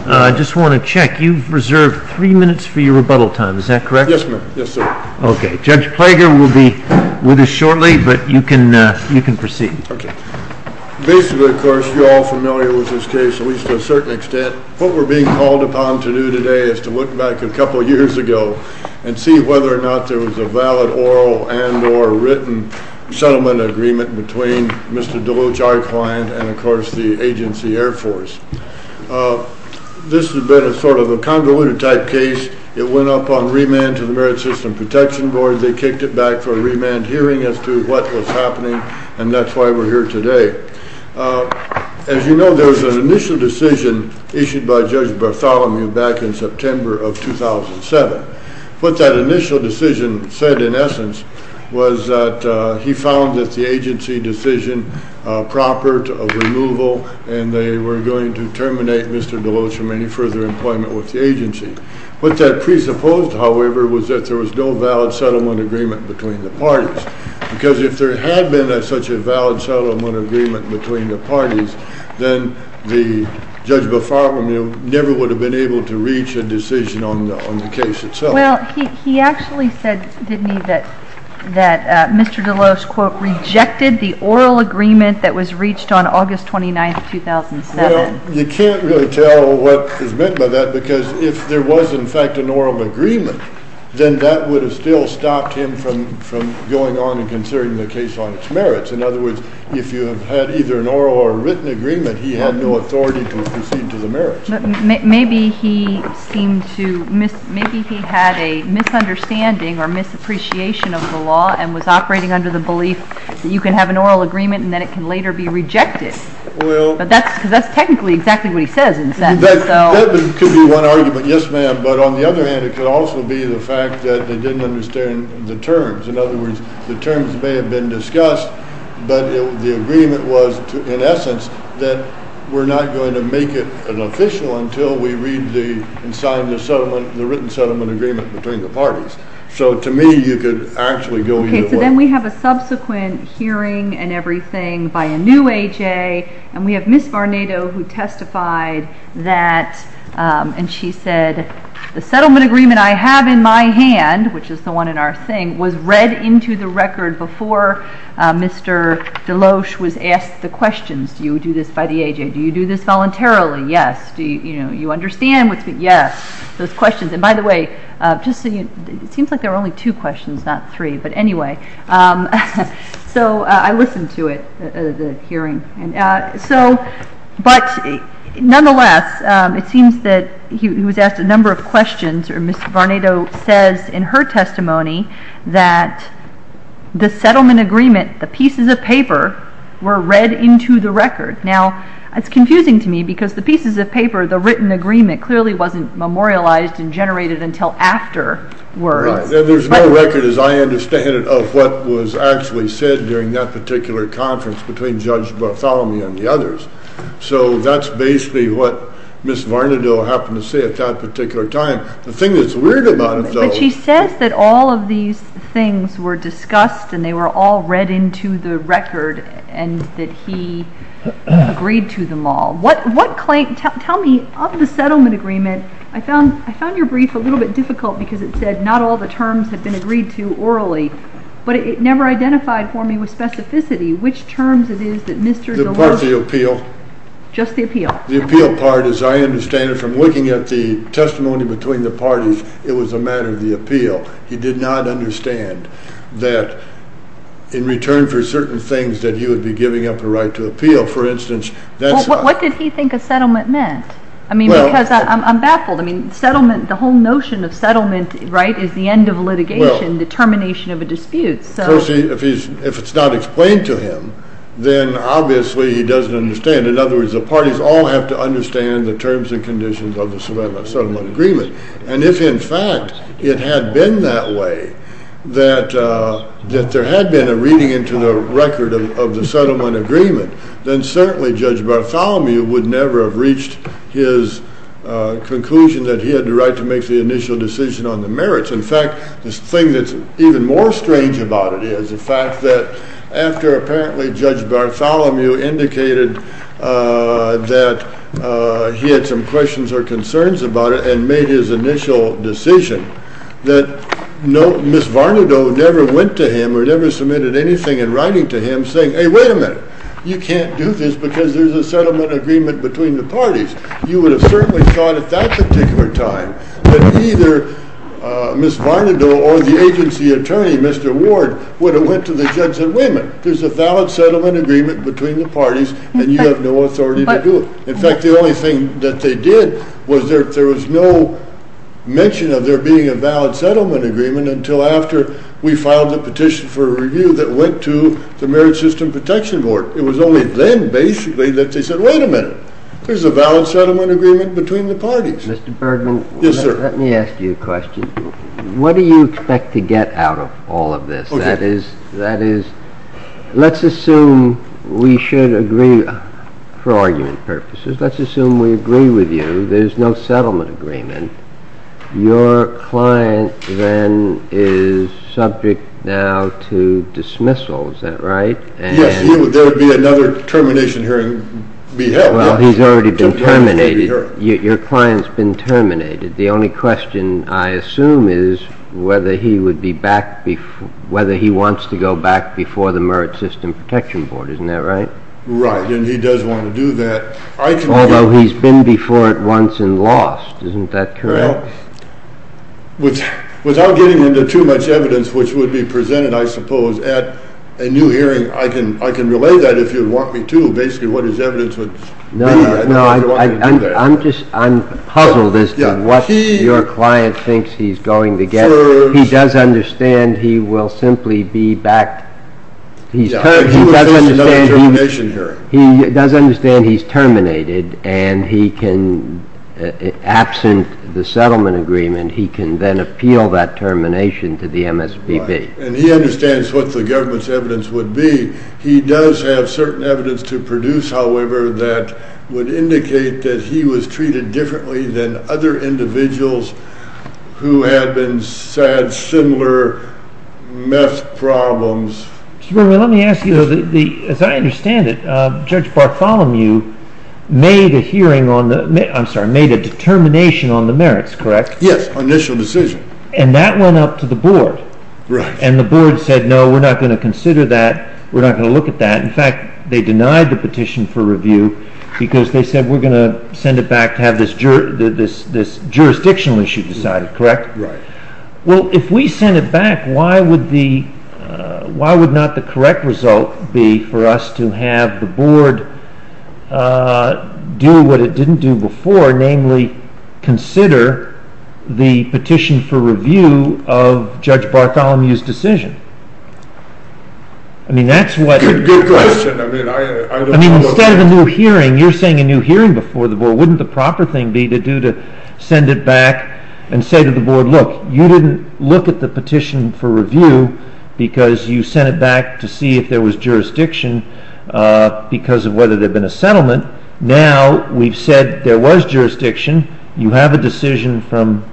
I just want to check, you've reserved three minutes for your rebuttal time, is that correct? Yes, ma'am. Yes, sir. Okay. Judge Plager will be with us shortly, but you can proceed. Okay. Basically, of course, you're all familiar with this case, at least to a certain extent. What we're being called upon to do today is to look back a couple of years ago and see whether or not there was a valid oral and or written settlement agreement between Mr. Deloach, our client, and of course the Agency Air Force. This has been a sort of a convoluted type case. It went up on remand to the Merit System Protection Board. They kicked it back for a remand hearing as to what was happening, and that's why we're here today. As you know, there was an initial decision issued by Judge Bartholomew back in September of 2007. What that initial decision said, in essence, was that he found that the Agency decision proper to removal and they were going to terminate Mr. Deloach from any further employment with the Agency. What that presupposed, however, was that there was no valid settlement agreement between the parties because if there had been such a valid settlement agreement between the parties, then Judge Bartholomew never would have been able to reach a decision on the case itself. Well, he actually said, didn't he, that Mr. Deloach, quote, rejected the oral agreement that was reached on August 29, 2007. Well, you can't really tell what is meant by that because if there was, in fact, an oral agreement, then that would have still stopped him from going on and considering the case on its merits. In other words, if you had either an oral or written agreement, he had no authority to proceed to the merits. Maybe he had a misunderstanding or misappreciation of the law and was operating under the belief that you can have an oral agreement and then it can later be rejected. But that's technically exactly what he says. That could be one argument, yes, ma'am. But on the other hand, it could also be the fact that they didn't understand the terms. In other words, the terms may have been discussed, but the agreement was, in essence, that we're not going to make it an official until we read and sign the written settlement agreement between the parties. So to me, you could actually go either way. Okay, so then we have a subsequent hearing and everything by a new A.J., and we have Ms. Barnato who testified that, and she said, the settlement agreement I have in my hand, which is the one in our thing, was read into the record before Mr. Deloach was asked the questions, do you do this by the A.J., do you do this voluntarily, yes, do you understand, yes, those questions. And by the way, it seems like there were only two questions, not three, but anyway. So I listened to it, the hearing. But nonetheless, it seems that he was asked a number of questions, and Ms. Barnato says in her testimony that the settlement agreement, the pieces of paper, were read into the record. Now, it's confusing to me because the pieces of paper, the written agreement, clearly wasn't memorialized and generated until afterwards. There's no record, as I understand it, of what was actually said during that particular conference between Judge Bartholomew and the others. So that's basically what Ms. Barnato happened to say at that particular time. The thing that's weird about it, though- But she says that all of these things were discussed and they were all read into the record, and that he agreed to them all. Tell me, of the settlement agreement, I found your brief a little bit difficult because it said not all the terms had been agreed to orally, but it never identified for me with specificity. Which terms it is that Mr. Deloach- The part of the appeal. Just the appeal. The appeal part, as I understand it, from looking at the testimony between the parties, it was a matter of the appeal. He did not understand that in return for certain things that he would be giving up the right to appeal. For instance- What did he think a settlement meant? Because I'm baffled. The whole notion of settlement is the end of litigation, the termination of a dispute. If it's not explained to him, then obviously he doesn't understand. In other words, the parties all have to understand the terms and conditions of the settlement agreement. And if in fact it had been that way, that there had been a reading into the record of the settlement agreement, then certainly Judge Bartholomew would never have reached his conclusion that he had the right to make the initial decision on the merits. In fact, the thing that's even more strange about it is the fact that after apparently Judge Bartholomew indicated that he had some questions or concerns about it and made his initial decision, that Ms. Varnadoe never went to him or never submitted anything in writing to him saying, Hey, wait a minute. You can't do this because there's a settlement agreement between the parties. You would have certainly thought at that particular time that either Ms. Varnadoe or the agency attorney, Mr. Ward, would have went to the judge and said, Wait a minute. There's a valid settlement agreement between the parties and you have no authority to do it. In fact, the only thing that they did was there was no mention of there being a valid settlement agreement until after we filed the petition for review that went to the Merit System Protection Board. It was only then, basically, that they said, Wait a minute. There's a valid settlement agreement between the parties. Mr. Bergman, let me ask you a question. What do you expect to get out of all of this? That is, let's assume we should agree, for argument purposes, let's assume we agree with you there's no settlement agreement. Your client then is subject now to dismissal, is that right? Yes, there would be another termination hearing. Well, he's already been terminated. Your client's been terminated. The only question, I assume, is whether he would be back, whether he wants to go back before the Merit System Protection Board, isn't that right? Right, and he does want to do that. Although he's been before it once and lost, isn't that correct? Well, without getting into too much evidence, which would be presented, I suppose, at a new hearing, I can relay that if you want me to, basically what his evidence would be. No, I'm puzzled as to what your client thinks he's going to get. He does understand he will simply be back. He does understand he's terminated and he can, absent the settlement agreement, he can then appeal that termination to the MSPB. And he understands what the government's evidence would be. He does have certain evidence to produce, however, that would indicate that he was treated differently than other individuals who had had similar meth problems. Let me ask you, as I understand it, Judge Bartholomew made a determination on the merits, correct? Yes, initial decision. And that went up to the board. And the board said, no, we're not going to consider that. We're not going to look at that. In fact, they denied the petition for review because they said, we're going to send it back to have this jurisdictional issue decided, correct? Well, if we send it back, why would not the correct result be for us to have the board do what it didn't do before, namely consider the petition for review of Judge Bartholomew's decision? Good question. Instead of a new hearing, you're saying a new hearing before the board. Wouldn't the proper thing be to send it back and say to the board, look, you didn't look at the petition for review because you sent it back to see if there was jurisdiction because of whether there had been a settlement. Now we've said there was jurisdiction. You have a decision from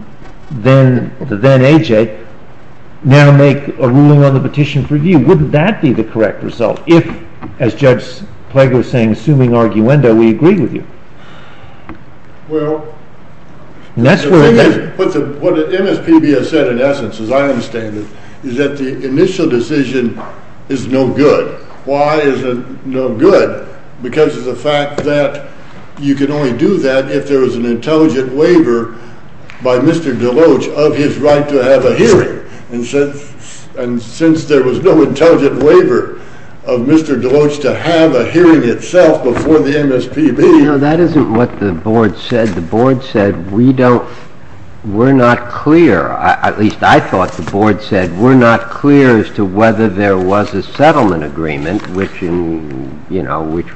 the then AJ. Now make a ruling on the petition for review. Wouldn't that be the correct result? If, as Judge Plegg was saying, assuming arguendo, we agree with you. Well, what MSPB has said in essence, as I understand it, is that the initial decision is no good. Why is it no good? Because of the fact that you can only do that if there is an intelligent waiver by Mr. Deloach of his right to have a hearing. And since there was no intelligent waiver of Mr. Deloach to have a hearing itself before the MSPB. No, that isn't what the board said. The board said we don't, we're not clear, at least I thought the board said we're not clear as to whether there was a settlement agreement, which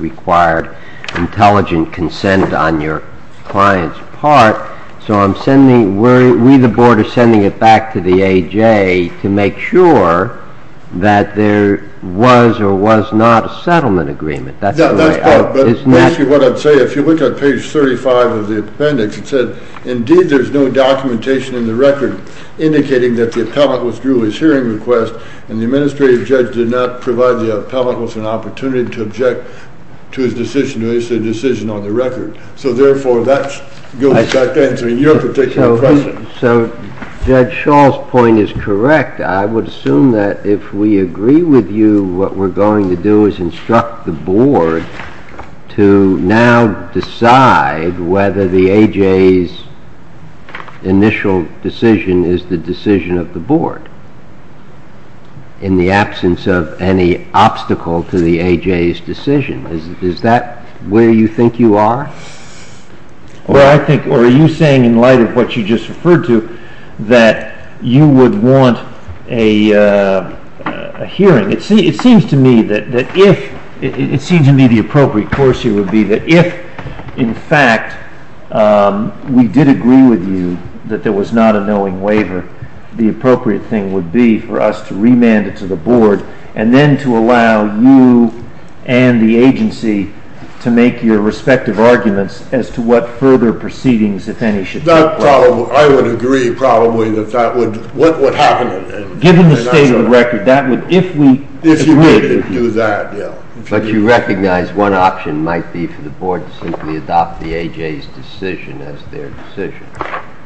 required intelligent consent on your client's part. So I'm sending, we the board are sending it back to the AJ to make sure that there was or was not a settlement agreement. That's correct, but basically what I'd say, if you look at page 35 of the appendix, it said, indeed there's no documentation in the record indicating that the appellant withdrew his hearing request and the administrative judge did not provide the appellant with an opportunity to object to his decision, to issue a decision on the record. So therefore that goes back to answering your particular question. So Judge Shaw's point is correct. I would assume that if we agree with you, what we're going to do is instruct the board to now decide whether the AJ's initial decision is the decision of the board in the absence of any obstacle to the AJ's decision. Is that where you think you are? Well, I think, or are you saying in light of what you just referred to that you would want a hearing? It seems to me that if, it seems to me the appropriate course here would be that if in fact we did agree with you that there was not a knowing waiver, the appropriate thing would be for us to remand it to the board and then to allow you and the agency to make your respective arguments as to what further proceedings, if any, should take place. I would agree probably that that would, what would happen. Given the state of the record, that would, if we agree with you. But you recognize one option might be for the board to simply adopt the AJ's decision as their decision.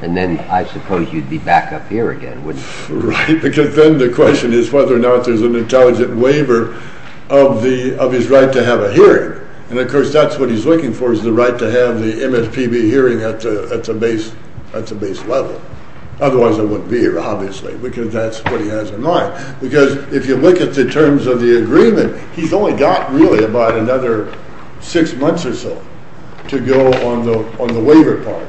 And then I suppose you'd be back up here again, wouldn't you? Right, because then the question is whether or not there's an intelligent waiver of his right to have a hearing. And of course that's what he's looking for is the right to have the MSPB hearing at the base level. Otherwise I wouldn't be here, obviously, because that's what he has in mind. Because if you look at the terms of the agreement, he's only got really about another six months or so to go on the waiver part.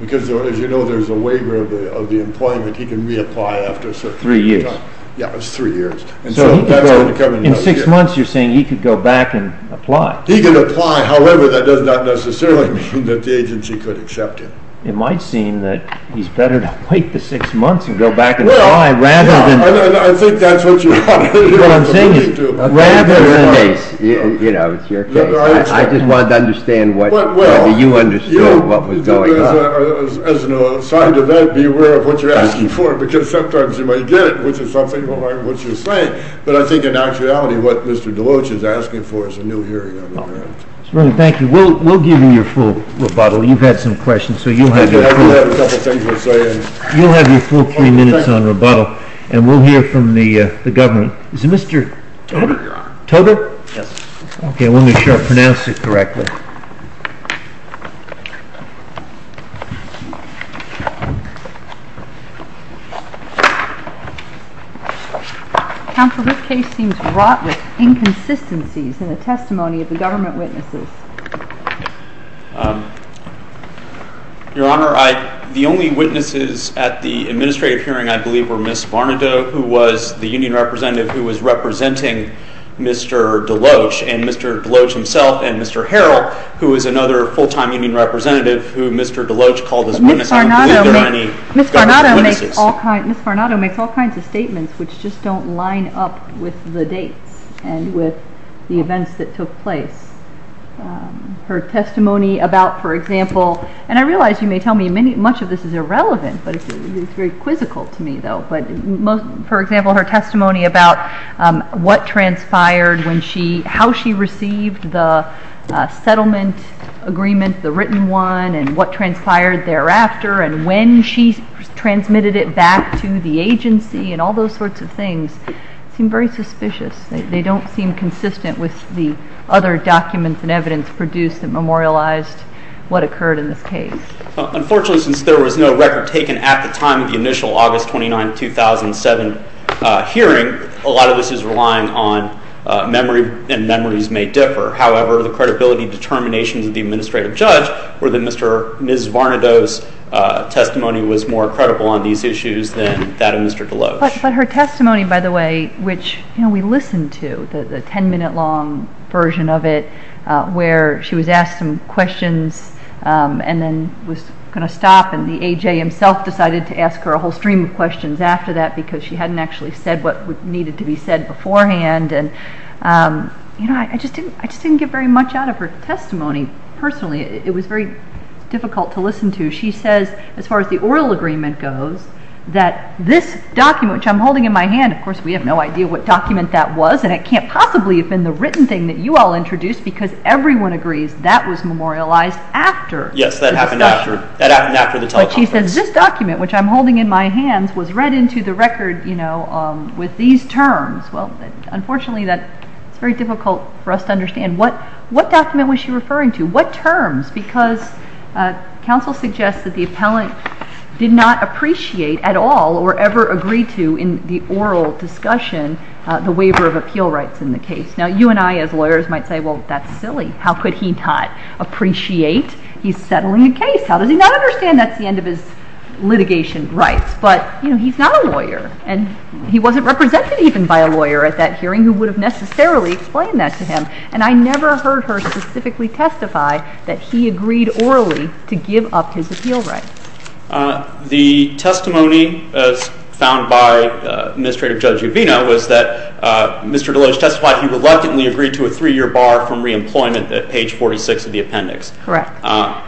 Because as you know there's a waiver of the employment, he can reapply after a certain period of time. Three years. Yeah, it's three years. So in six months you're saying he could go back and apply. He can apply, however that does not necessarily mean that the agency could accept him. It might seem that he's better to wait the six months and go back and apply rather than... Well, I think that's what you have to agree to. What I'm saying is rather than... You know, it's your case. I just wanted to understand whether you understood what was going on. As an aside to that, be aware of what you're asking for, because sometimes you might get it, which is something along what you're saying. But I think in actuality what Mr. Deloach is asking for is a new hearing on the ground. Thank you. We'll give you your full rebuttal. You've had some questions, so you'll have your full... I do have a couple of things to say. You'll have your full three minutes on rebuttal, and we'll hear from the government. Is it Mr. Togo? Yes. Okay, let me make sure I pronounce it correctly. Counsel, this case seems wrought with inconsistencies in the testimony of the government witnesses. Your Honor, the only witnesses at the administrative hearing, I believe, were Ms. Varnadoe, who was the union representative, who was representing Mr. Deloach and Mr. Deloach himself and Mr. Harrell, and another full-time union representative who Mr. Deloach called his witness. I don't believe there are any government witnesses. Ms. Varnadoe makes all kinds of statements which just don't line up with the dates and with the events that took place. Her testimony about, for example, and I realize you may tell me much of this is irrelevant, but it's very quizzical to me, though. For example, her testimony about how she received the settlement agreement, the written one, and what transpired thereafter and when she transmitted it back to the agency and all those sorts of things seem very suspicious. They don't seem consistent with the other documents and evidence produced that memorialized what occurred in this case. Unfortunately, since there was no record taken at the time of the initial August 29, 2007 hearing, a lot of this is relying on memory and memories may differ. However, the credibility determinations of the administrative judge were that Ms. Varnadoe's testimony was more credible on these issues than that of Mr. Deloach. But her testimony, by the way, which we listened to, the 10-minute long version of it, where she was asked some questions and then was going to stop and the AJ himself decided to ask her a whole stream of questions after that because she hadn't actually said what needed to be said beforehand. I just didn't get very much out of her testimony personally. It was very difficult to listen to. She says, as far as the oral agreement goes, that this document, which I'm holding in my hand, of course we have no idea what document that was and it can't possibly have been the written thing that you all introduced because everyone agrees that was memorialized after the discussion. Yes, that happened after the teleconference. But she says, this document, which I'm holding in my hands, was read into the record with these terms. Well, unfortunately, it's very difficult for us to understand. What document was she referring to? What terms? Because counsel suggests that the appellant did not appreciate at all or ever agree to in the oral discussion the waiver of appeal rights in the case. Now, you and I as lawyers might say, well, that's silly. How could he not appreciate he's settling a case? How does he not understand that's the end of his litigation rights? But, you know, he's not a lawyer and he wasn't represented even by a lawyer at that hearing who would have necessarily explained that to him. And I never heard her specifically testify that he agreed orally to give up his appeal rights. The testimony found by Administrative Judge Uvina was that Mr. Deloge testified he reluctantly agreed to a three-year bar from reemployment at page 46 of the appendix. Correct.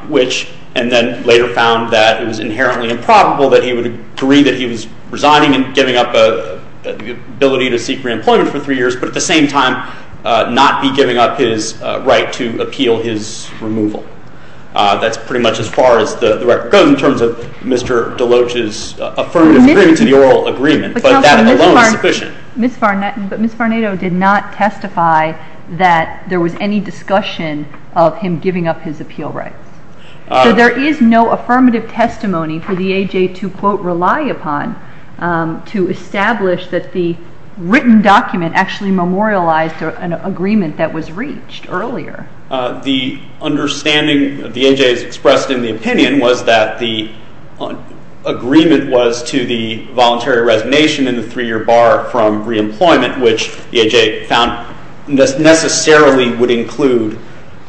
Which and then later found that it was inherently improbable that he would agree that he was resigning and giving up the ability to seek reemployment for three years, but at the same time not be giving up his right to appeal his removal. That's pretty much as far as the record goes in terms of Mr. Deloge's affirmative agreement to the oral agreement, but that alone is sufficient. But, counsel, Ms. Farnato did not testify that there was any discussion of him giving up his appeal rights. So there is no affirmative testimony for the AJ to, quote, rely upon to establish that the written document actually memorialized an agreement that was reached earlier. The understanding the AJ has expressed in the opinion was that the agreement was to the voluntary resignation in the three-year bar from reemployment, which the AJ found necessarily would include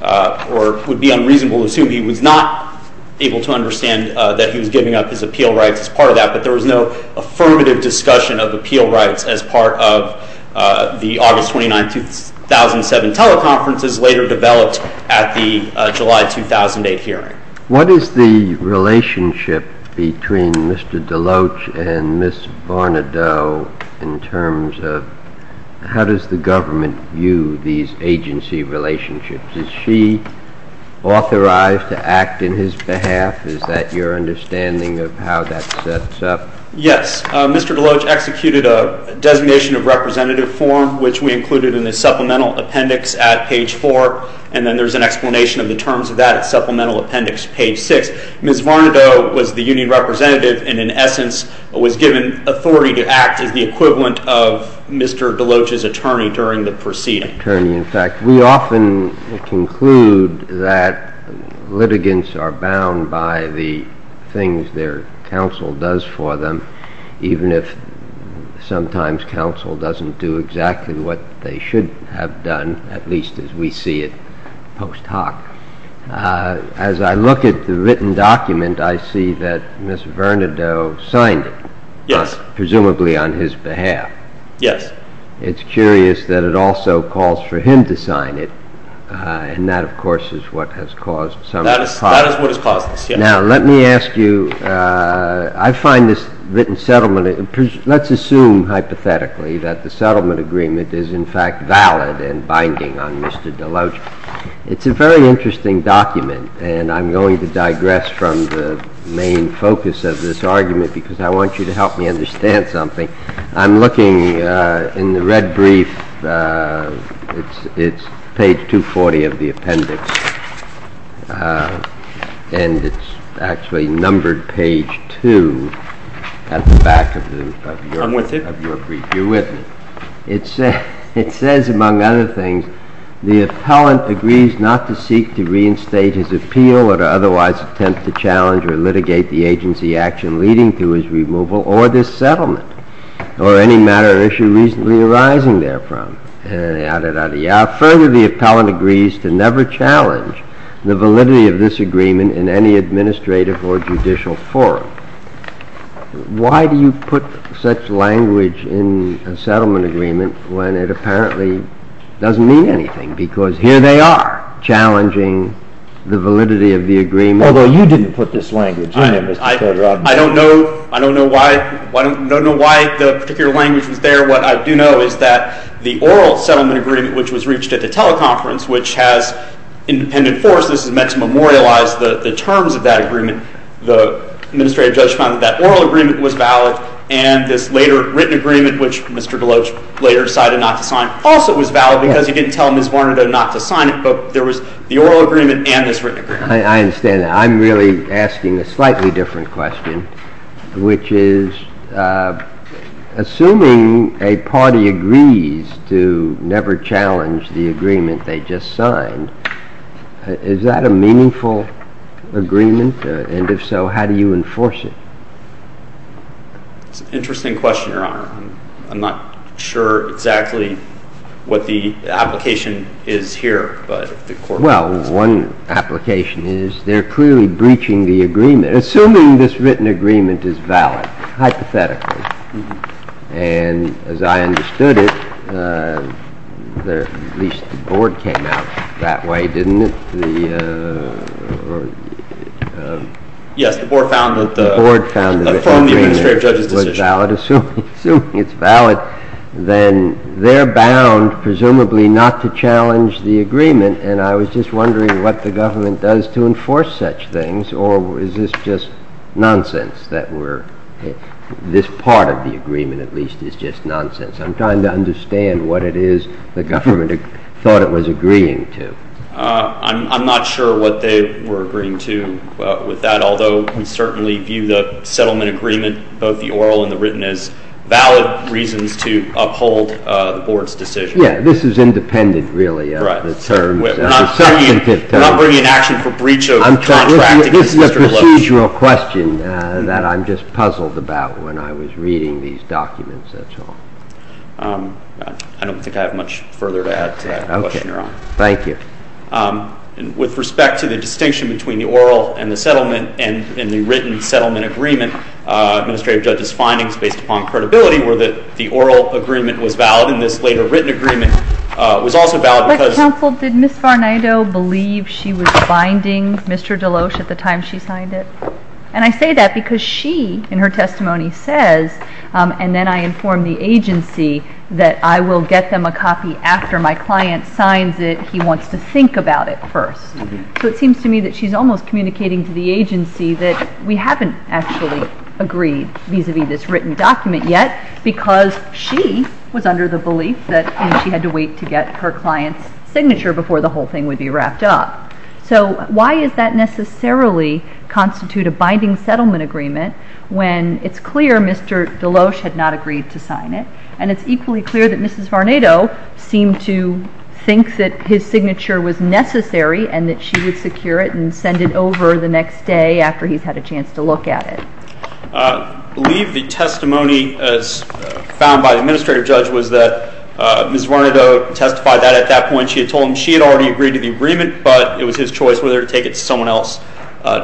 or would be unreasonable to assume he was not able to understand that he was giving up his appeal rights as part of that. But there was no affirmative discussion of appeal rights as part of the August 29, 2007 teleconferences later developed at the July 2008 hearing. What is the relationship between Mr. Deloge and Ms. Farnato in terms of how does the government view these agency relationships? Is she authorized to act in his behalf? Is that your understanding of how that sets up? Yes. Mr. Deloge executed a designation of representative form, which we included in the supplemental appendix at page 4, and then there's an explanation of the terms of that at supplemental appendix page 6. Ms. Farnato was the union representative and, in essence, was given authority to act as the equivalent of Mr. Deloge's attorney during the proceeding. Attorney, in fact, we often conclude that litigants are bound by the things their counsel does for them, even if sometimes counsel doesn't do exactly what they should have done, at least as we see it post hoc. As I look at the written document, I see that Ms. Farnato signed it. Yes. Presumably on his behalf. Yes. It's curious that it also calls for him to sign it, and that, of course, is what has caused some... That is what has caused this, yes. Now, let me ask you, I find this written settlement, let's assume hypothetically that the settlement agreement is in fact valid and binding on Mr. Deloge. It's a very interesting document, and I'm going to digress from the main focus of this argument because I want you to help me understand something. I'm looking in the red brief, it's page 240 of the appendix, and it's actually numbered page 2 at the back of your brief. I'm with it. You're with me. It says, among other things, the appellant agrees not to seek to reinstate his appeal or to otherwise attempt to challenge or litigate the agency action leading to his removal or this settlement, or any matter or issue reasonably arising therefrom. Further, the appellant agrees to never challenge the validity of this agreement in any administrative or judicial forum. Why do you put such language in a settlement agreement when it apparently doesn't mean anything? Because here they are, challenging the validity of the agreement. Although you didn't put this language in it, Mr. Cotterod. I don't know why the particular language was there. What I do know is that the oral settlement agreement, which was reached at the teleconference, which has independent forces, is meant to memorialize the terms of that agreement. The administrative judge found that that oral agreement was valid, and this later written agreement, which Mr. Deloach later decided not to sign, also was valid because he didn't tell Ms. Varnadoe not to sign it, but there was the oral agreement and this written agreement. I understand that. I'm really asking a slightly different question, which is, assuming a party agrees to never challenge the agreement they just signed, is that a meaningful agreement? And if so, how do you enforce it? It's an interesting question, Your Honor. I'm not sure exactly what the application is here. Well, one application is they're clearly breaching the agreement, assuming this written agreement is valid, hypothetically. And as I understood it, at least the board came out that way, didn't it? Yes, the board found that the form of the administrative judge's decision was valid. Assuming it's valid, then they're bound, presumably, not to challenge the agreement, and I was just wondering what the government does to enforce such things, or is this just nonsense? This part of the agreement, at least, is just nonsense. I'm trying to understand what it is the government thought it was agreeing to. I'm not sure what they were agreeing to with that, although we certainly view the settlement agreement, both the oral and the written, as valid reasons to uphold the board's decision. Yes, this is independent, really, of the terms. We're not bringing an action for breach of contract. This is a procedural question that I'm just puzzled about when I was reading these documents, that's all. I don't think I have much further to add to that question, Your Honor. Okay, thank you. With respect to the distinction between the oral and the written settlement agreement, administrative judge's findings, based upon credibility, were that the oral agreement was valid, and this later written agreement was also valid because And I say that because she, in her testimony, says, and then I inform the agency that I will get them a copy after my client signs it. He wants to think about it first. So it seems to me that she's almost communicating to the agency that we haven't actually agreed, vis-à-vis this written document yet, because she was under the belief that she had to wait to get her client's signature before the whole thing would be wrapped up. So why does that necessarily constitute a binding settlement agreement when it's clear Mr. Deloach had not agreed to sign it, and it's equally clear that Mrs. Varnado seemed to think that his signature was necessary and that she would secure it and send it over the next day after he's had a chance to look at it? I believe the testimony found by the administrative judge was that Mrs. Varnado testified that at that point. She had told him she had already agreed to the agreement, but it was his choice whether to take it to someone else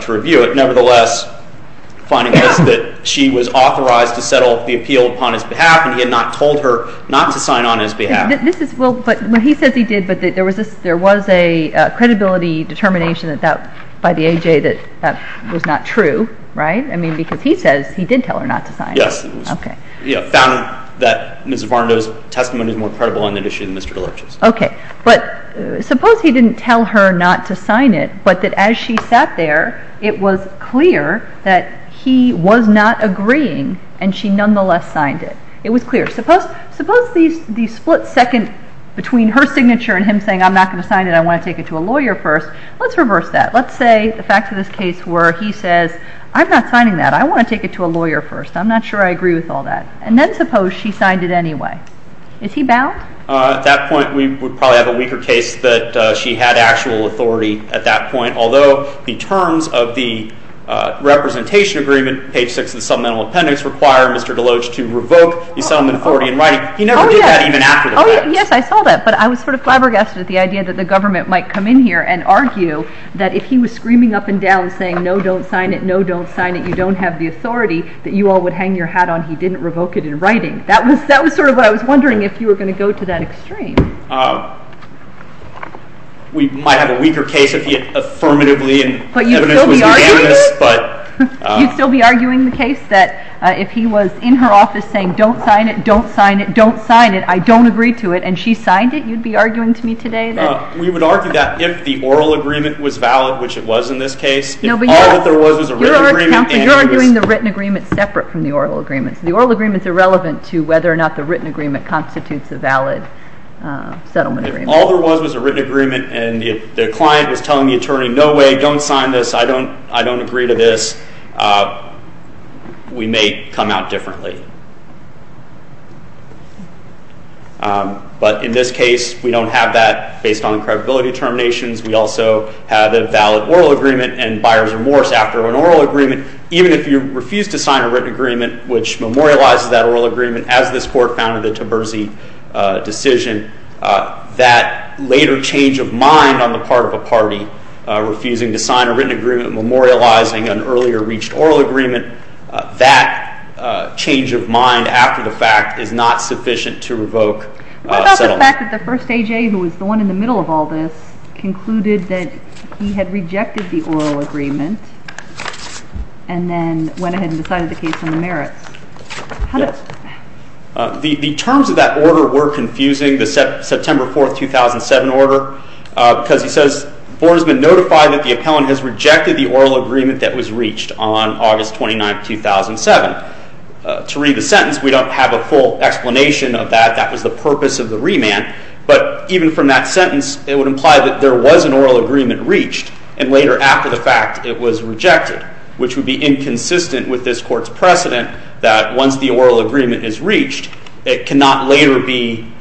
to review it. Nevertheless, finding this that she was authorized to settle the appeal upon his behalf, and he had not told her not to sign on his behalf. Well, he says he did, but there was a credibility determination by the A.J. that that was not true, right? I mean, because he says he did tell her not to sign it. Yes, he found that Mrs. Varnado's testimony was more credible on that issue than Mr. Deloach's. Okay, but suppose he didn't tell her not to sign it, but that as she sat there it was clear that he was not agreeing and she nonetheless signed it. It was clear. Suppose the split second between her signature and him saying, I'm not going to sign it, I want to take it to a lawyer first. Let's reverse that. Let's say the facts of this case were he says, I'm not signing that. I want to take it to a lawyer first. I'm not sure I agree with all that. And then suppose she signed it anyway. Is he bound? At that point, we would probably have a weaker case that she had actual authority at that point, although the terms of the representation agreement, page 6 of the subliminal appendix, require Mr. Deloach to revoke the settlement authority in writing. He never did that even after the fact. Yes, I saw that, but I was sort of flabbergasted at the idea that the government might come in here and argue that if he was screaming up and down saying, no, don't sign it, no, don't sign it, you don't have the authority, that you all would hang your hat on he didn't revoke it in writing. That was sort of what I was wondering if you were going to go to that extreme. We might have a weaker case if he affirmatively and evidence was unanimous. But you'd still be arguing it? You'd still be arguing the case that if he was in her office saying, don't sign it, don't sign it, don't sign it, I don't agree to it, and she signed it, you'd be arguing to me today that? We would argue that if the oral agreement was valid, which it was in this case, if all that there was was a written agreement. You're arguing the written agreement separate from the oral agreement. The oral agreement is irrelevant to whether or not the written agreement constitutes a valid settlement agreement. If all there was was a written agreement and the client was telling the attorney, no way, don't sign this, I don't agree to this, we may come out differently. But in this case, we don't have that based on credibility determinations. We also have a valid oral agreement and buyer's remorse after an oral agreement. Even if you refuse to sign a written agreement, which memorializes that oral agreement as this court founded the Taberzi decision, that later change of mind on the part of a party, refusing to sign a written agreement, memorializing an earlier reached oral agreement, that change of mind after the fact is not sufficient to revoke settlement. What about the fact that the first AJ, who was the one in the middle of all this, concluded that he had rejected the oral agreement and then went ahead and decided the case on the merits? Yes. The terms of that order were confusing, the September 4, 2007 order, because he says, the board has been notified that the appellant has rejected the oral agreement that was reached on August 29, 2007. To read the sentence, we don't have a full explanation of that. That was the purpose of the remand. But even from that sentence, it would imply that there was an oral agreement reached, and later after the fact, it was rejected, which would be inconsistent with this court's precedent that once the oral agreement is reached, it cannot later be,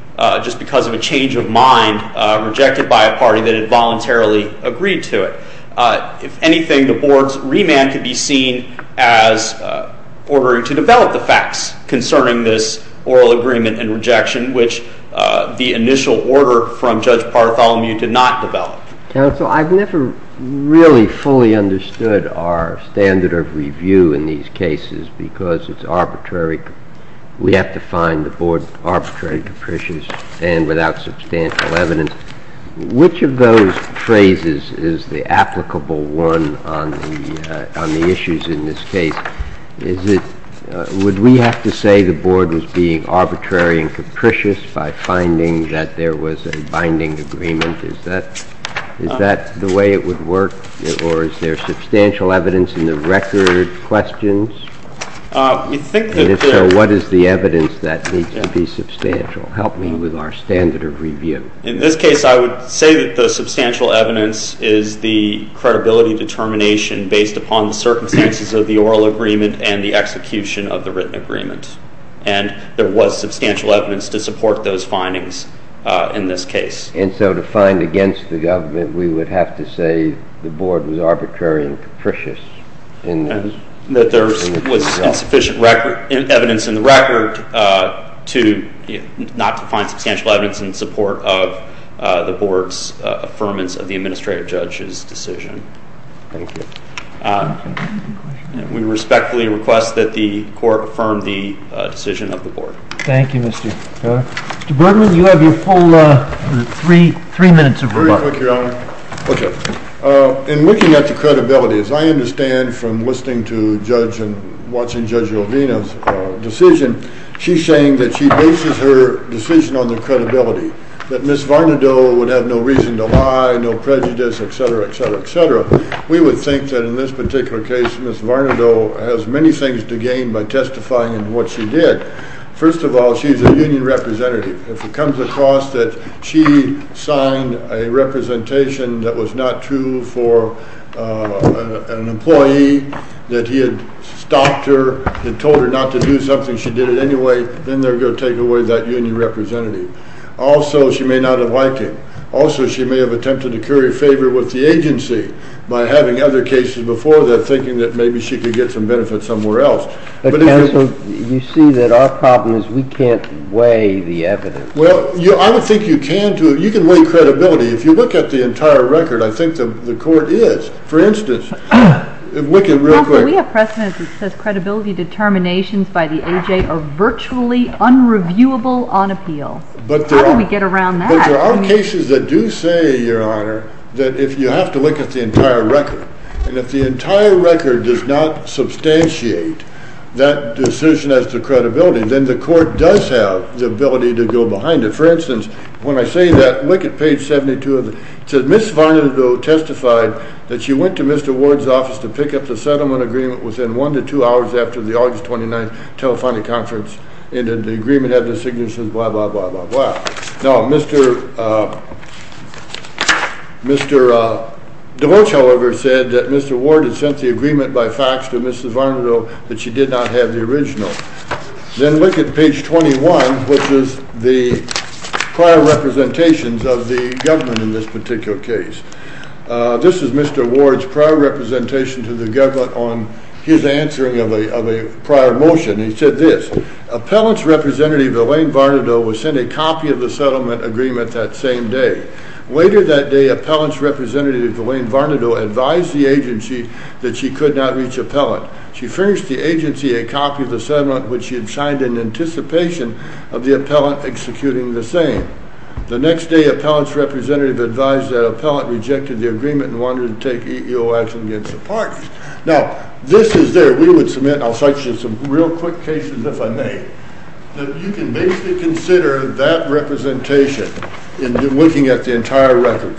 just because of a change of mind, rejected by a party that had voluntarily agreed to it. If anything, the board's remand could be seen as ordering to develop the facts concerning this oral agreement and rejection, which the initial order from Judge Partholomew did not develop. Counsel, I've never really fully understood our standard of review in these cases, because it's arbitrary. We have to find the board's arbitrary capricious and without substantial evidence. Which of those phrases is the applicable one on the issues in this case? Would we have to say the board was being arbitrary and capricious by finding that there was a binding agreement? Is that the way it would work, or is there substantial evidence in the record? Questions? And if so, what is the evidence that needs to be substantial? Help me with our standard of review. In this case, I would say that the substantial evidence is the credibility determination based upon the circumstances of the oral agreement and the execution of the written agreement. And there was substantial evidence to support those findings in this case. And so to find against the government, we would have to say the board was arbitrary and capricious in this? That there was insufficient evidence in the record not to find substantial evidence in support of the board's affirmance of the administrative judge's decision. Thank you. We respectfully request that the court affirm the decision of the board. Thank you, Mr. Bergman. Mr. Bergman, you have your full three minutes. Very quick, Your Honor. In looking at the credibility, as I understand from listening to Judge and watching Judge Jovino's decision, she's saying that she bases her decision on the credibility, that Ms. Varnadoe would have no reason to lie, no prejudice, etc., etc., etc. We would think that in this particular case, Ms. Varnadoe has many things to gain by testifying in what she did. First of all, she's a union representative. If it comes across that she signed a representation that was not true for an employee, that he had stopped her, had told her not to do something, she did it anyway, then they're going to take away that union representative. Also, she may not have liked him. Also, she may have attempted to curry favor with the agency by having other cases before that, thinking that maybe she could get some benefit somewhere else. Counsel, you see that our problem is we can't weigh the evidence. Well, I would think you can. You can weigh credibility. If you look at the entire record, I think the court is. For instance, if we can real quick... are virtually unreviewable on appeal. How do we get around that? But there are cases that do say, Your Honor, that if you have to look at the entire record, and if the entire record does not substantiate that decision as to credibility, then the court does have the ability to go behind it. For instance, when I say that, look at page 72. It says, Ms. Varnadoe testified that she went to Mr. Ward's office to pick up the settlement agreement within one to two hours after the August 29th telephony conference ended. The agreement had the signature says blah, blah, blah, blah, blah. Now, Mr. DeVos, however, said that Mr. Ward had sent the agreement by fax to Mrs. Varnadoe, but she did not have the original. Then look at page 21, which is the prior representations of the government in this particular case. This is Mr. Ward's prior representation to the government on his answering of a prior motion. He said this, Appellant's representative, Elaine Varnadoe, was sent a copy of the settlement agreement that same day. Later that day, Appellant's representative, Elaine Varnadoe, advised the agency that she could not reach appellant. She furnished the agency a copy of the settlement, which she had signed in anticipation of the appellant executing the same. The next day, Appellant rejected the agreement and wanted to take EEO action against the party. Now, this is there. We would submit, I'll cite you some real quick cases, if I may, that you can basically consider that representation in looking at the entire record.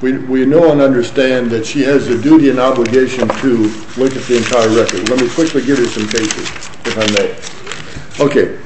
We know and understand that she has a duty and obligation to look at the entire record. Let me quickly give you some cases, if I may. Okay.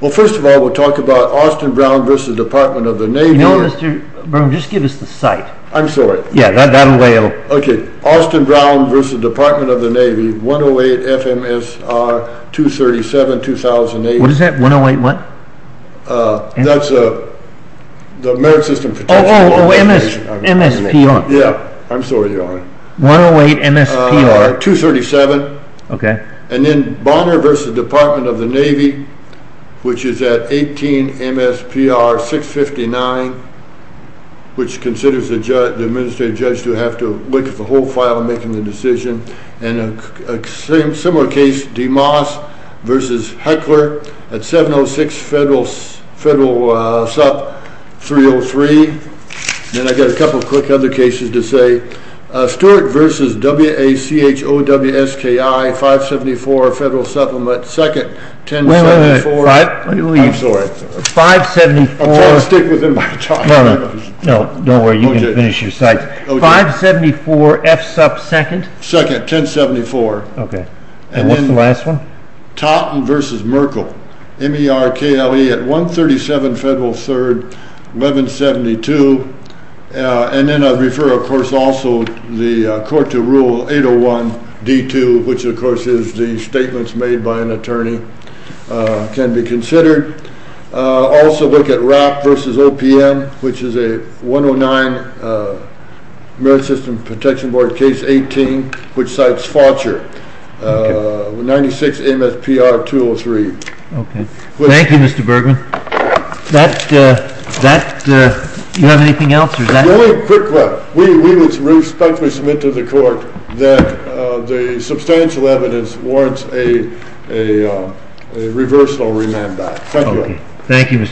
Well, first of all, we'll talk about Austin Brown versus Department of the Navy. You know, Mr. Berman, just give us the site. I'm sorry. Yeah, that'll weigh a little. Okay. Austin Brown versus Department of the Navy, 108 FMSR 237, 2008. What is that? 108 what? That's the merit system protection organization. Oh, MSPR. Yeah. I'm sorry, Your Honor. 108 MSPR. 237. Okay. And then Bonner versus Department of the Navy, which is at 18 MSPR 659, which considers the administrative judge to have to look at the whole file and making the decision. And a similar case, DeMoss versus Heckler at 706 Federal Supp 303. Then I got a couple of quick other cases to say. Stewart versus WACHOWSKI 574 Federal Supplement, second 1074. Wait, wait, wait. I'm sorry. 574. I can't stick with him by the time I finish. No, no, no. Don't worry. You can finish your site. Okay. 574 F Supp, second? Second, 1074. Okay. And what's the last one? Totten versus Merkle, MERKLE at 137 Federal Supp, 1172. And then I'd refer, of course, also the court to rule 801 D2, which of course is the statements made by an attorney, can be considered. Also look at RAP versus OPM, which is a 109 Merit System Protection Board Case 18, which cites Faucher, 96 MSPR 203. Okay. Thank you, Mr. Bergman. Do you have anything else? Quick one. We would respectfully submit to the court that the substantial evidence warrants a reversal or remand back. Thank you.